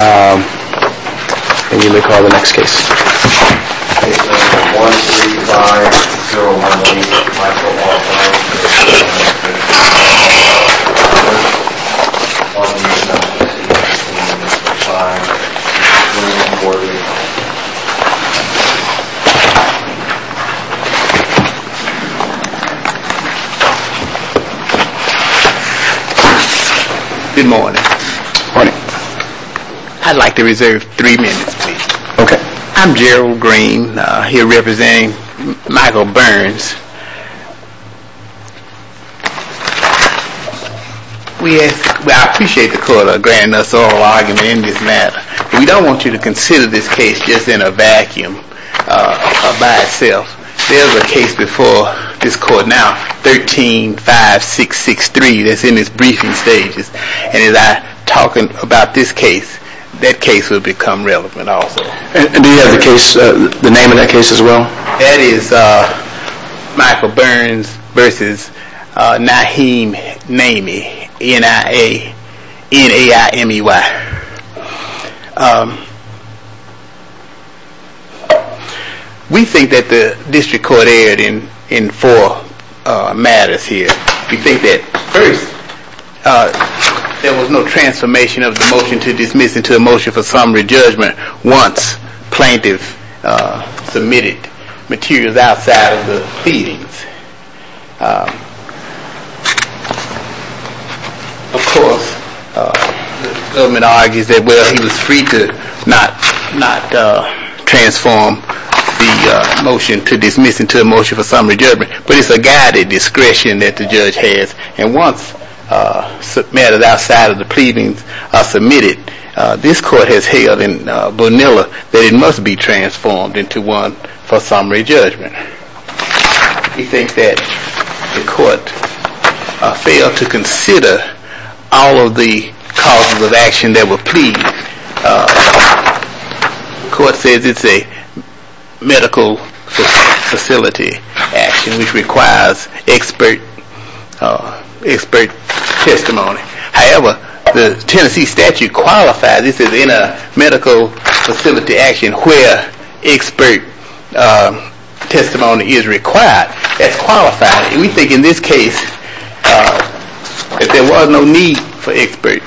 and you may call the next case. Case number 13501, Michael Walton. Good morning. Morning. I'd like to reserve three minutes, please. Okay. I'm Gerald Green. He'll represent Michael Burns. I appreciate the court granting us all argument in this matter. We don't want you to consider this case just in a vacuum by itself. There's a case before this court now, 13-5663, that's in its briefing stages. And as I talk about this case, that case will become relevant also. Do you have the name of that case as well? That is Michael Burns v. Nahim Naymi, N-I-A-N-A-I-M-E-Y. We think that the district court erred in four matters here. We think that first, there was no transformation of the motion to dismiss into a motion for summary judgment once plaintiff submitted materials outside of the pleadings. Of course, the government argues that, well, he was free to not transform the motion to dismiss into a motion for summary judgment. But it's a guided discretion that the judge has. And once matters outside of the pleadings are submitted, this court has held in Bonilla that it must be transformed into one for summary judgment. We think that the court failed to consider all of the causes of action that were pleaded. The court says it's a medical facility action which requires expert testimony. However, the Tennessee statute qualifies this as a medical facility action where expert testimony is required. It's qualified. We think in this case that there was no need for expert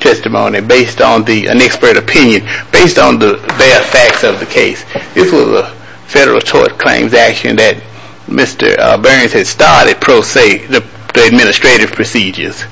testimony based on an expert opinion, based on the bare facts of the case. This was a federal tort claims action that Mr. Burns had started the administrative procedures.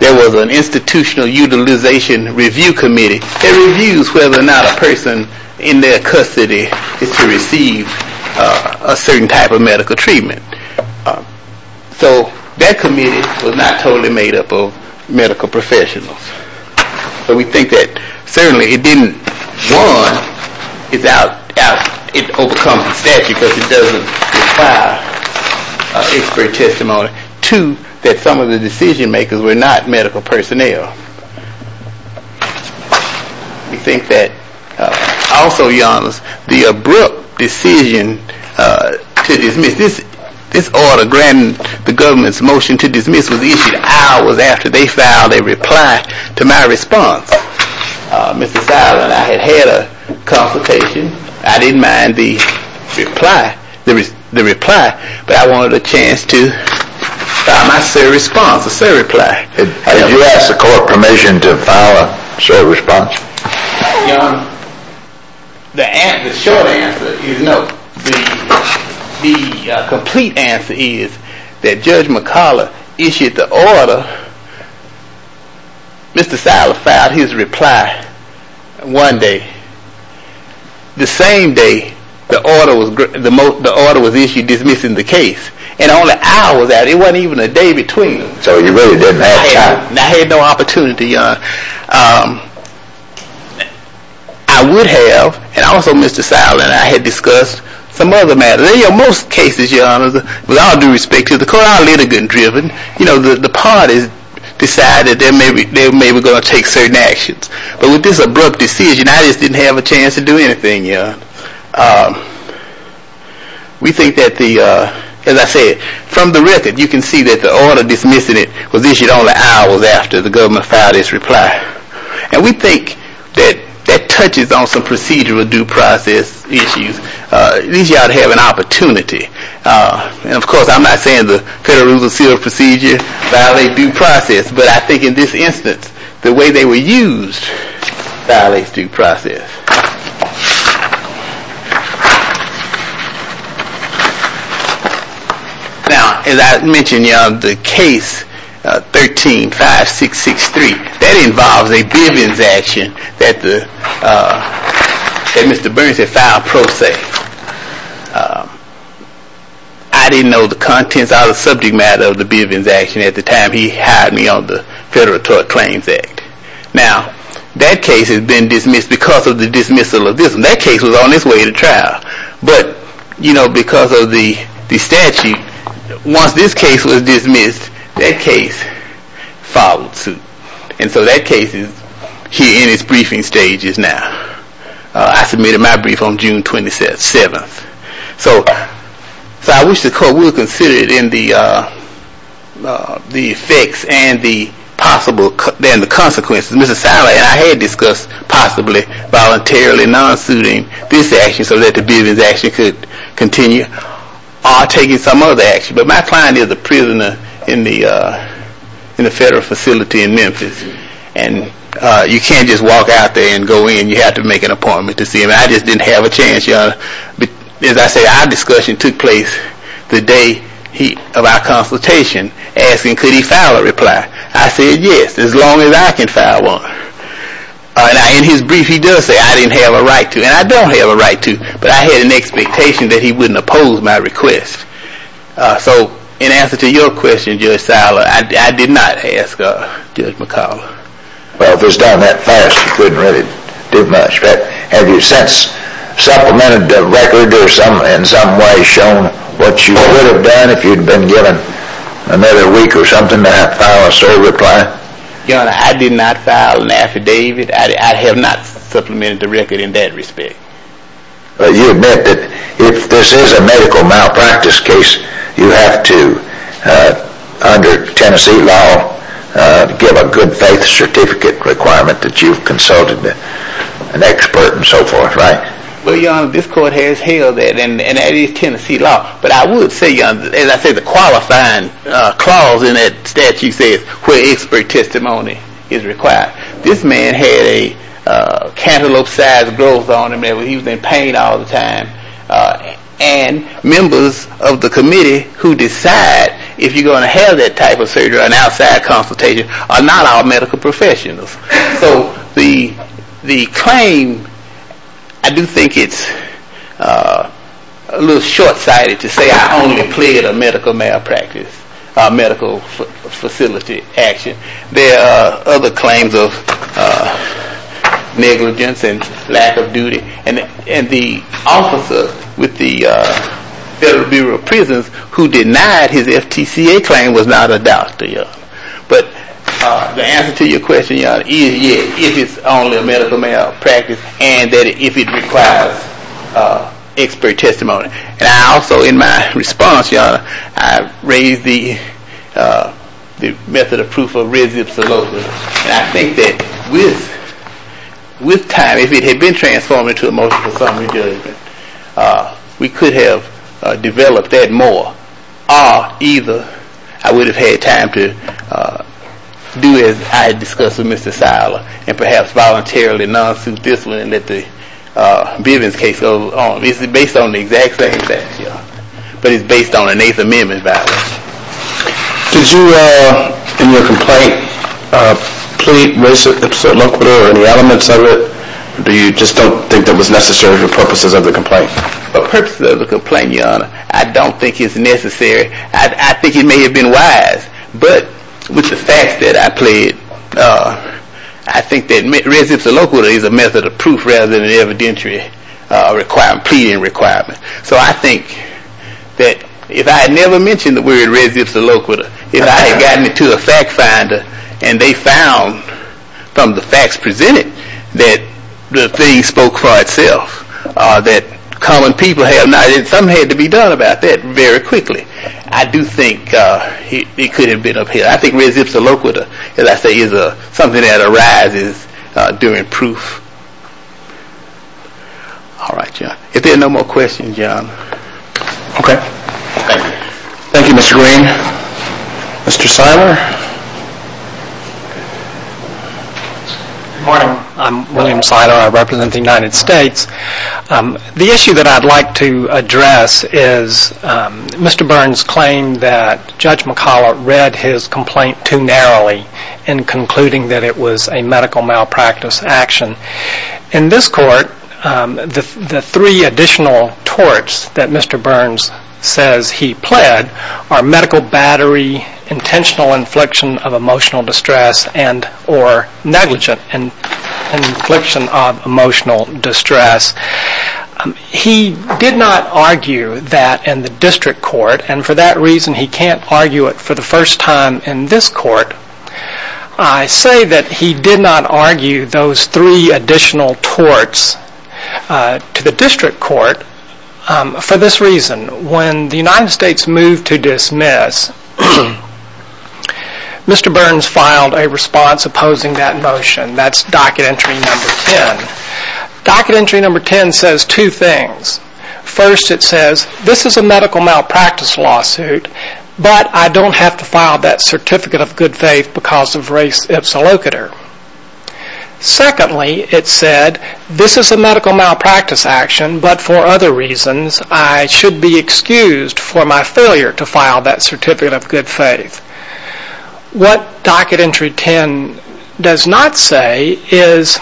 There was an institutional utilization review committee. It reviews whether or not a person in their custody is to receive a certain type of medical treatment. So that committee was not totally made up of medical professionals. So we think that certainly it didn't, one, it overcomes the statute because it doesn't require expert testimony. Two, that some of the decision-makers were not medical personnel. We think that also, Your Honor, the abrupt decision to dismiss, this order granting the government's motion to dismiss was issued hours after they filed a reply to my response. Mr. Siler and I had had a consultation. I didn't mind the reply, but I wanted a chance to file my sere response, a sere reply. Did you ask the court permission to file a sere response? Your Honor, the short answer is no. The complete answer is that Judge McCullough issued the order. Mr. Siler filed his reply one day. The same day the order was issued dismissing the case, and only hours after. It wasn't even a day between them. I had no opportunity, Your Honor. I would have, and also Mr. Siler and I had discussed some other matters. In most cases, Your Honor, with all due respect to the court, our litigant driven, you know, the parties decided they were maybe going to take certain actions. But with this abrupt decision, I just didn't have a chance to do anything, Your Honor. We think that the, as I said, from the record, you can see that the order dismissing it was issued only hours after the government filed its reply. And we think that that touches on some procedural due process issues. These y'all have an opportunity. Of course, I'm not saying the Federal Rules of Procedure violate due process, but I think in this instance, the way they were used violates due process. Now, as I mentioned, Your Honor, the case 13-5663, that involves a Bivens action that Mr. Burns had filed pro se. I didn't know the contents or the subject matter of the Bivens action at the time he hired me on the Federal Tort Claims Act. Now, that case has been dismissed because of the dismissal of this one. That case was on its way to trial. But, you know, because of the statute, once this case was dismissed, that case followed suit. And so that case is here in its briefing stages now. I submitted my brief on June 27th. So I wish the court would consider the effects and the consequences. Mr. Siler and I had discussed possibly voluntarily non-suiting this action so that the Bivens action could continue or taking some other action. But my client is a prisoner in the Federal facility in Memphis. And you can't just walk out there and go in. You have to make an appointment to see him. I just didn't have a chance, Your Honor. As I said, our discussion took place the day of our consultation, asking could he file a reply. I said yes, as long as I can file one. In his brief, he does say I didn't have a right to. And I don't have a right to. But I had an expectation that he wouldn't oppose my request. So in answer to your question, Judge Siler, I did not ask Judge McCollough. Well, if it was done that fast, you couldn't really do much. But have you since supplemented the record or in some way shown what you would have done if you had been given another week or something to file a certain reply? Your Honor, I did not file an affidavit. I have not supplemented the record in that respect. But you admit that if this is a medical malpractice case, you have to, under Tennessee law, give a good faith certificate requirement that you've consulted an expert and so forth, right? Well, Your Honor, this court has held that, and that is Tennessee law. But I would say, Your Honor, as I say, the qualifying clause in that statute says where expert testimony is required. This man had a cantaloupe-sized growth on him. He was in pain all the time. And members of the committee who decide if you're going to have that type of surgery or an outside consultation are not all medical professionals. So the claim, I do think it's a little short-sighted to say I only pled a medical malpractice, a medical facility action. There are other claims of negligence and lack of duty. And the officer with the Federal Bureau of Prisons who denied his FTCA claim was not a doctor, Your Honor. But the answer to your question, Your Honor, is yes, if it's only a medical malpractice, and that if it requires expert testimony. And I also, in my response, Your Honor, I raised the method of proof of red-zip salosis. And I think that with time, if it had been transformed into a motion for summary judgment, we could have developed that more. Or either I would have had time to do as I discussed with Mr. Siler and perhaps voluntarily non-suit this one and let the Bivens case go on. It's based on the exact same statute, but it's based on an Eighth Amendment violation. Did you, in your complaint, plead res ipsa loquitur or any elements of it? Or do you just don't think that was necessary for purposes of the complaint? For purposes of the complaint, Your Honor, I don't think it's necessary. I think it may have been wise. But with the facts that I pleaded, I think that res ipsa loquitur is a method of proof rather than an evidentiary requirement, pleading requirement. So I think that if I had never mentioned the word res ipsa loquitur, if I had gotten it to a fact finder and they found from the facts presented that the thing spoke for itself, that common people have not, something had to be done about that very quickly. I do think it could have been upheld. I think res ipsa loquitur, as I say, is something that arises during proof. All right, John. If there are no more questions, John. Thank you. Thank you, Mr. Green. Mr. Siler. Good morning. I'm William Siler. I represent the United States. The issue that I'd like to address is Mr. Burns' claim that Judge McCollough read his complaint too narrowly in concluding that it was a medical malpractice action. In this court, the three additional torts that Mr. Burns says he pled are medical battery, intentional infliction of emotional distress, and or negligent infliction of emotional distress. He did not argue that in the district court, and for that reason he can't argue it for the first time in this court. I say that he did not argue those three additional torts to the district court for this reason. When the United States moved to dismiss, Mr. Burns filed a response opposing that motion. That's docket entry number 10. Docket entry number 10 says two things. First, it says, this is a medical malpractice lawsuit, but I don't have to file that certificate of good faith because of race ipsilocator. Secondly, it said, this is a medical malpractice action, but for other reasons, I should be excused for my failure to file that certificate of good faith. What docket entry 10 does not say is,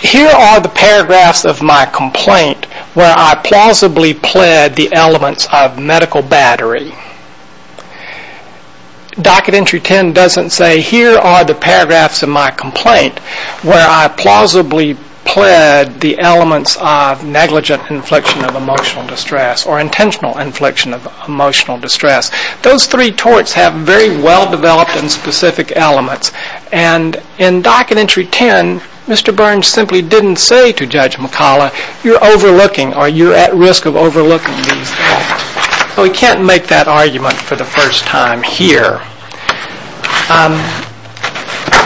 here are the paragraphs of my complaint where I plausibly pled the elements of medical battery. Docket entry 10 doesn't say, here are the paragraphs of my complaint where I plausibly pled the elements of negligent infliction of emotional distress or intentional infliction of emotional distress. Those three torts have very well-developed and specific elements. And in docket entry 10, Mr. Burns simply didn't say to Judge McCalla, you're overlooking or you're at risk of overlooking these things. So he can't make that argument for the first time here.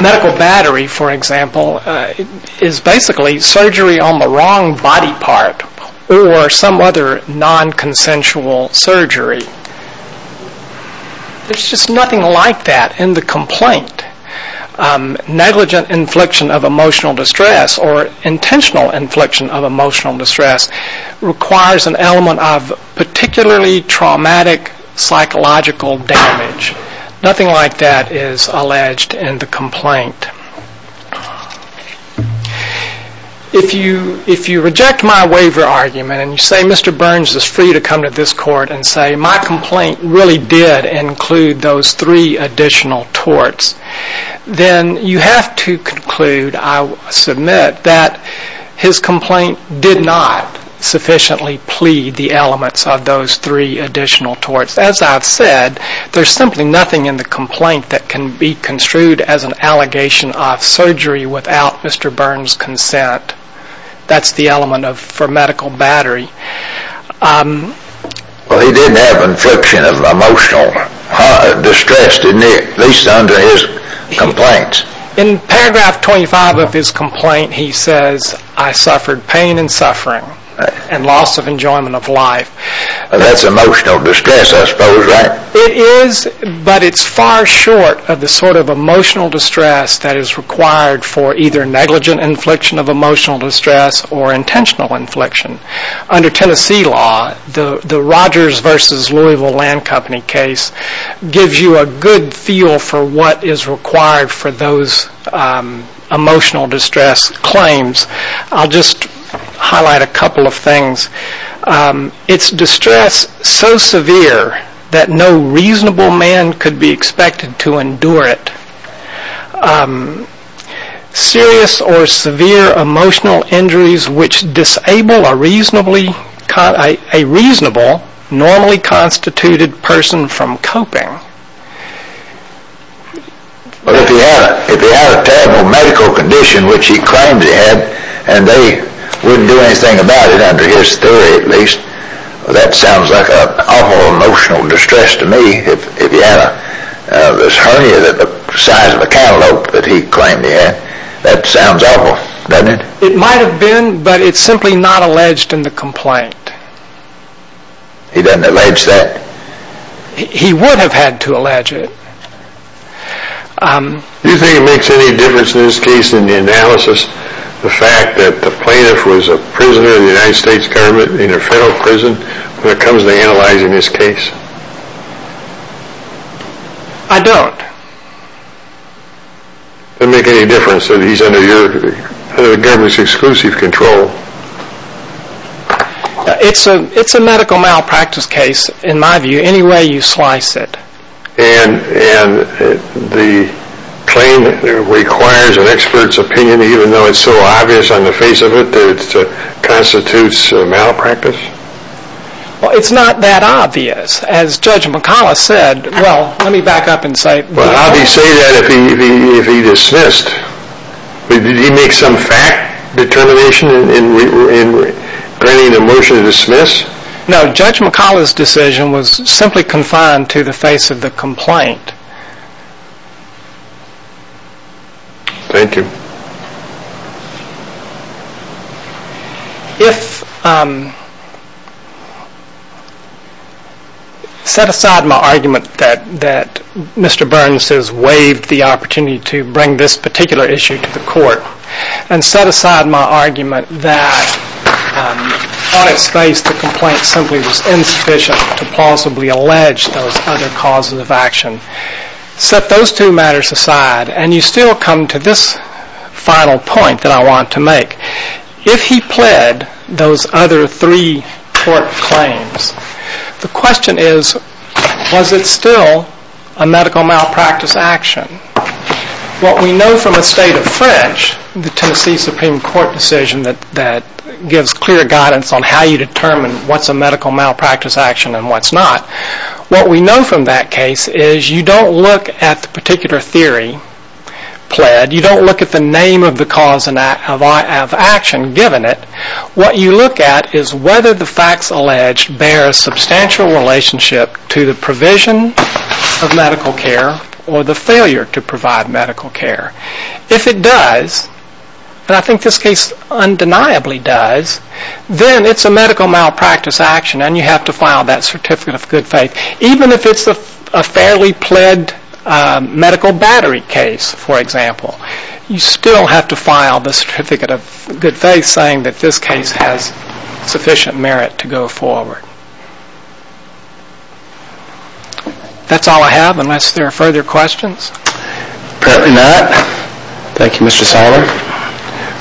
Medical battery, for example, is basically surgery on the wrong body part or some other non-consensual surgery. There's just nothing like that in the complaint. Negligent infliction of emotional distress or intentional infliction of emotional distress requires an element of particularly traumatic psychological damage. Nothing like that is alleged in the complaint. If you reject my waiver argument and you say Mr. Burns is free to come to this court and say my complaint really did include those three additional torts, then you have to conclude, I submit, that his complaint did not sufficiently plead the elements of those three additional torts. As I've said, there's simply nothing in the complaint that can be construed as an allegation of surgery without Mr. Burns' consent. That's the element for medical battery. Well, he didn't have infliction of emotional distress, did he, at least under his complaints? In paragraph 25 of his complaint, he says, I suffered pain and suffering and loss of enjoyment of life. That's emotional distress, I suppose, right? It is, but it's far short of the sort of emotional distress that is required for either negligent infliction of emotional distress or intentional infliction. Under Tennessee law, the Rogers v. Louisville Land Company case gives you a good feel for what is required for those emotional distress claims. I'll just highlight a couple of things. It's distress so severe that no reasonable man could be expected to endure it. Serious or severe emotional injuries which disable a reasonable, normally constituted person from coping. Well, if he had a terrible medical condition, which he claims he had, and they wouldn't do anything about it, under his theory at least, that sounds like an awful emotional distress to me. If he had this hernia the size of a cantaloupe that he claimed he had, that sounds awful, doesn't it? It might have been, but it's simply not alleged in the complaint. He doesn't allege that? He would have had to allege it. Do you think it makes any difference in this case in the analysis, the fact that the plaintiff was a prisoner in the United States government, in a federal prison, when it comes to analyzing this case? I don't. Does it make any difference that he's under the government's exclusive control? It's a medical malpractice case, in my view, any way you slice it. And the claim requires an expert's opinion, even though it's so obvious on the face of it that it constitutes malpractice? Well, it's not that obvious. As Judge McCollough said, well, let me back up and say... Would it be obvious to say that if he dismissed? Did he make some fact determination in granting the motion to dismiss? No, Judge McCollough's decision was simply confined to the face of the complaint. Thank you. If... Set aside my argument that Mr. Burns has waived the opportunity to bring this particular issue to the court, and set aside my argument that on its face the complaint simply was insufficient to possibly allege those other causes of action, set those two matters aside, and you still come to this final point that I want to make. If he pled those other three court claims, the question is, was it still a medical malpractice action? What we know from a state of French, the Tennessee Supreme Court decision that gives clear guidance on how you determine what's a medical malpractice action and what's not, what we know from that case is you don't look at the particular theory pled. You don't look at the name of the cause of action given it. What you look at is whether the facts alleged bear a substantial relationship to the provision of medical care or the failure to provide medical care. If it does, and I think this case undeniably does, then it's a medical malpractice action and you have to file that Certificate of Good Faith. Even if it's a fairly pled medical battery case, for example, you still have to file the Certificate of Good Faith saying that this case has sufficient merit to go forward. That's all I have unless there are further questions. Apparently not. Thank you, Mr. Siler.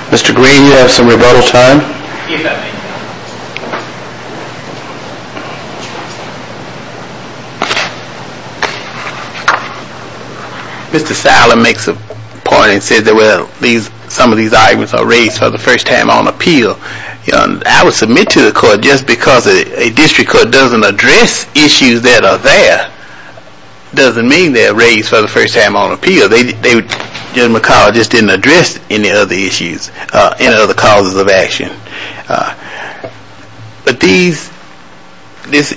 Mr. Green, you have some rebuttal time. Mr. Siler makes a point and says that some of these arguments are raised for the first time on appeal. I would submit to the court just because a district court doesn't address issues that are there doesn't mean they're raised for the first time on appeal. General McCall just didn't address any other issues, any other causes of action. But this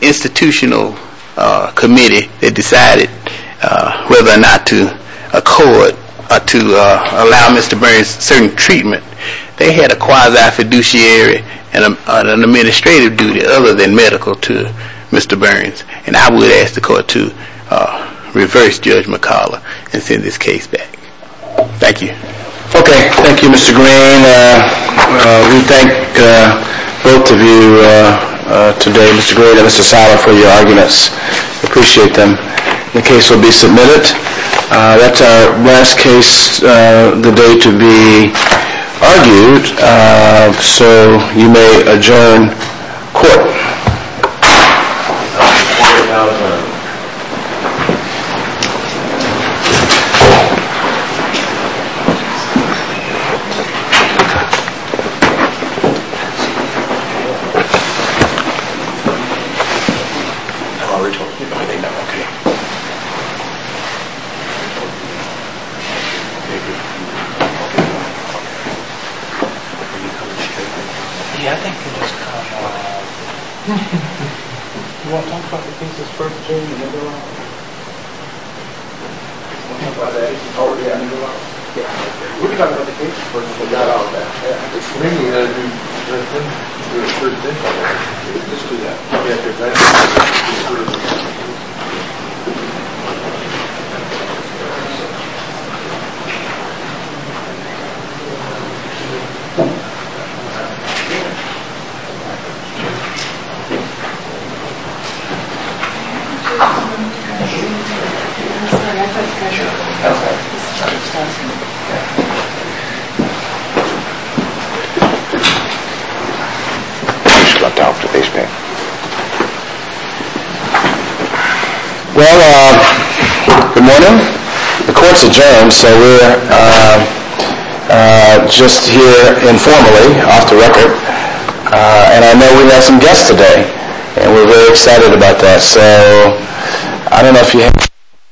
institutional committee that decided whether or not to allow Mr. Burns certain treatment, they had a quasi-fiduciary and an administrative duty other than medical to Mr. Burns. And I would ask the court to reverse Judge McCalla and send this case back. Thank you. Okay. Thank you, Mr. Green. We thank both of you today, Mr. Green and Mr. Siler, for your arguments. Appreciate them. The case will be submitted. That's our last case of the day to be argued. So you may adjourn court. Thank you. Any other pieces for adjournment? Should I talk to these people? Well, good morning. The court's adjourned, so we're just here informally, off the record. And I know we have some guests today, and we're very excited about that. So I don't know if you have any questions. Thank you. Thank you.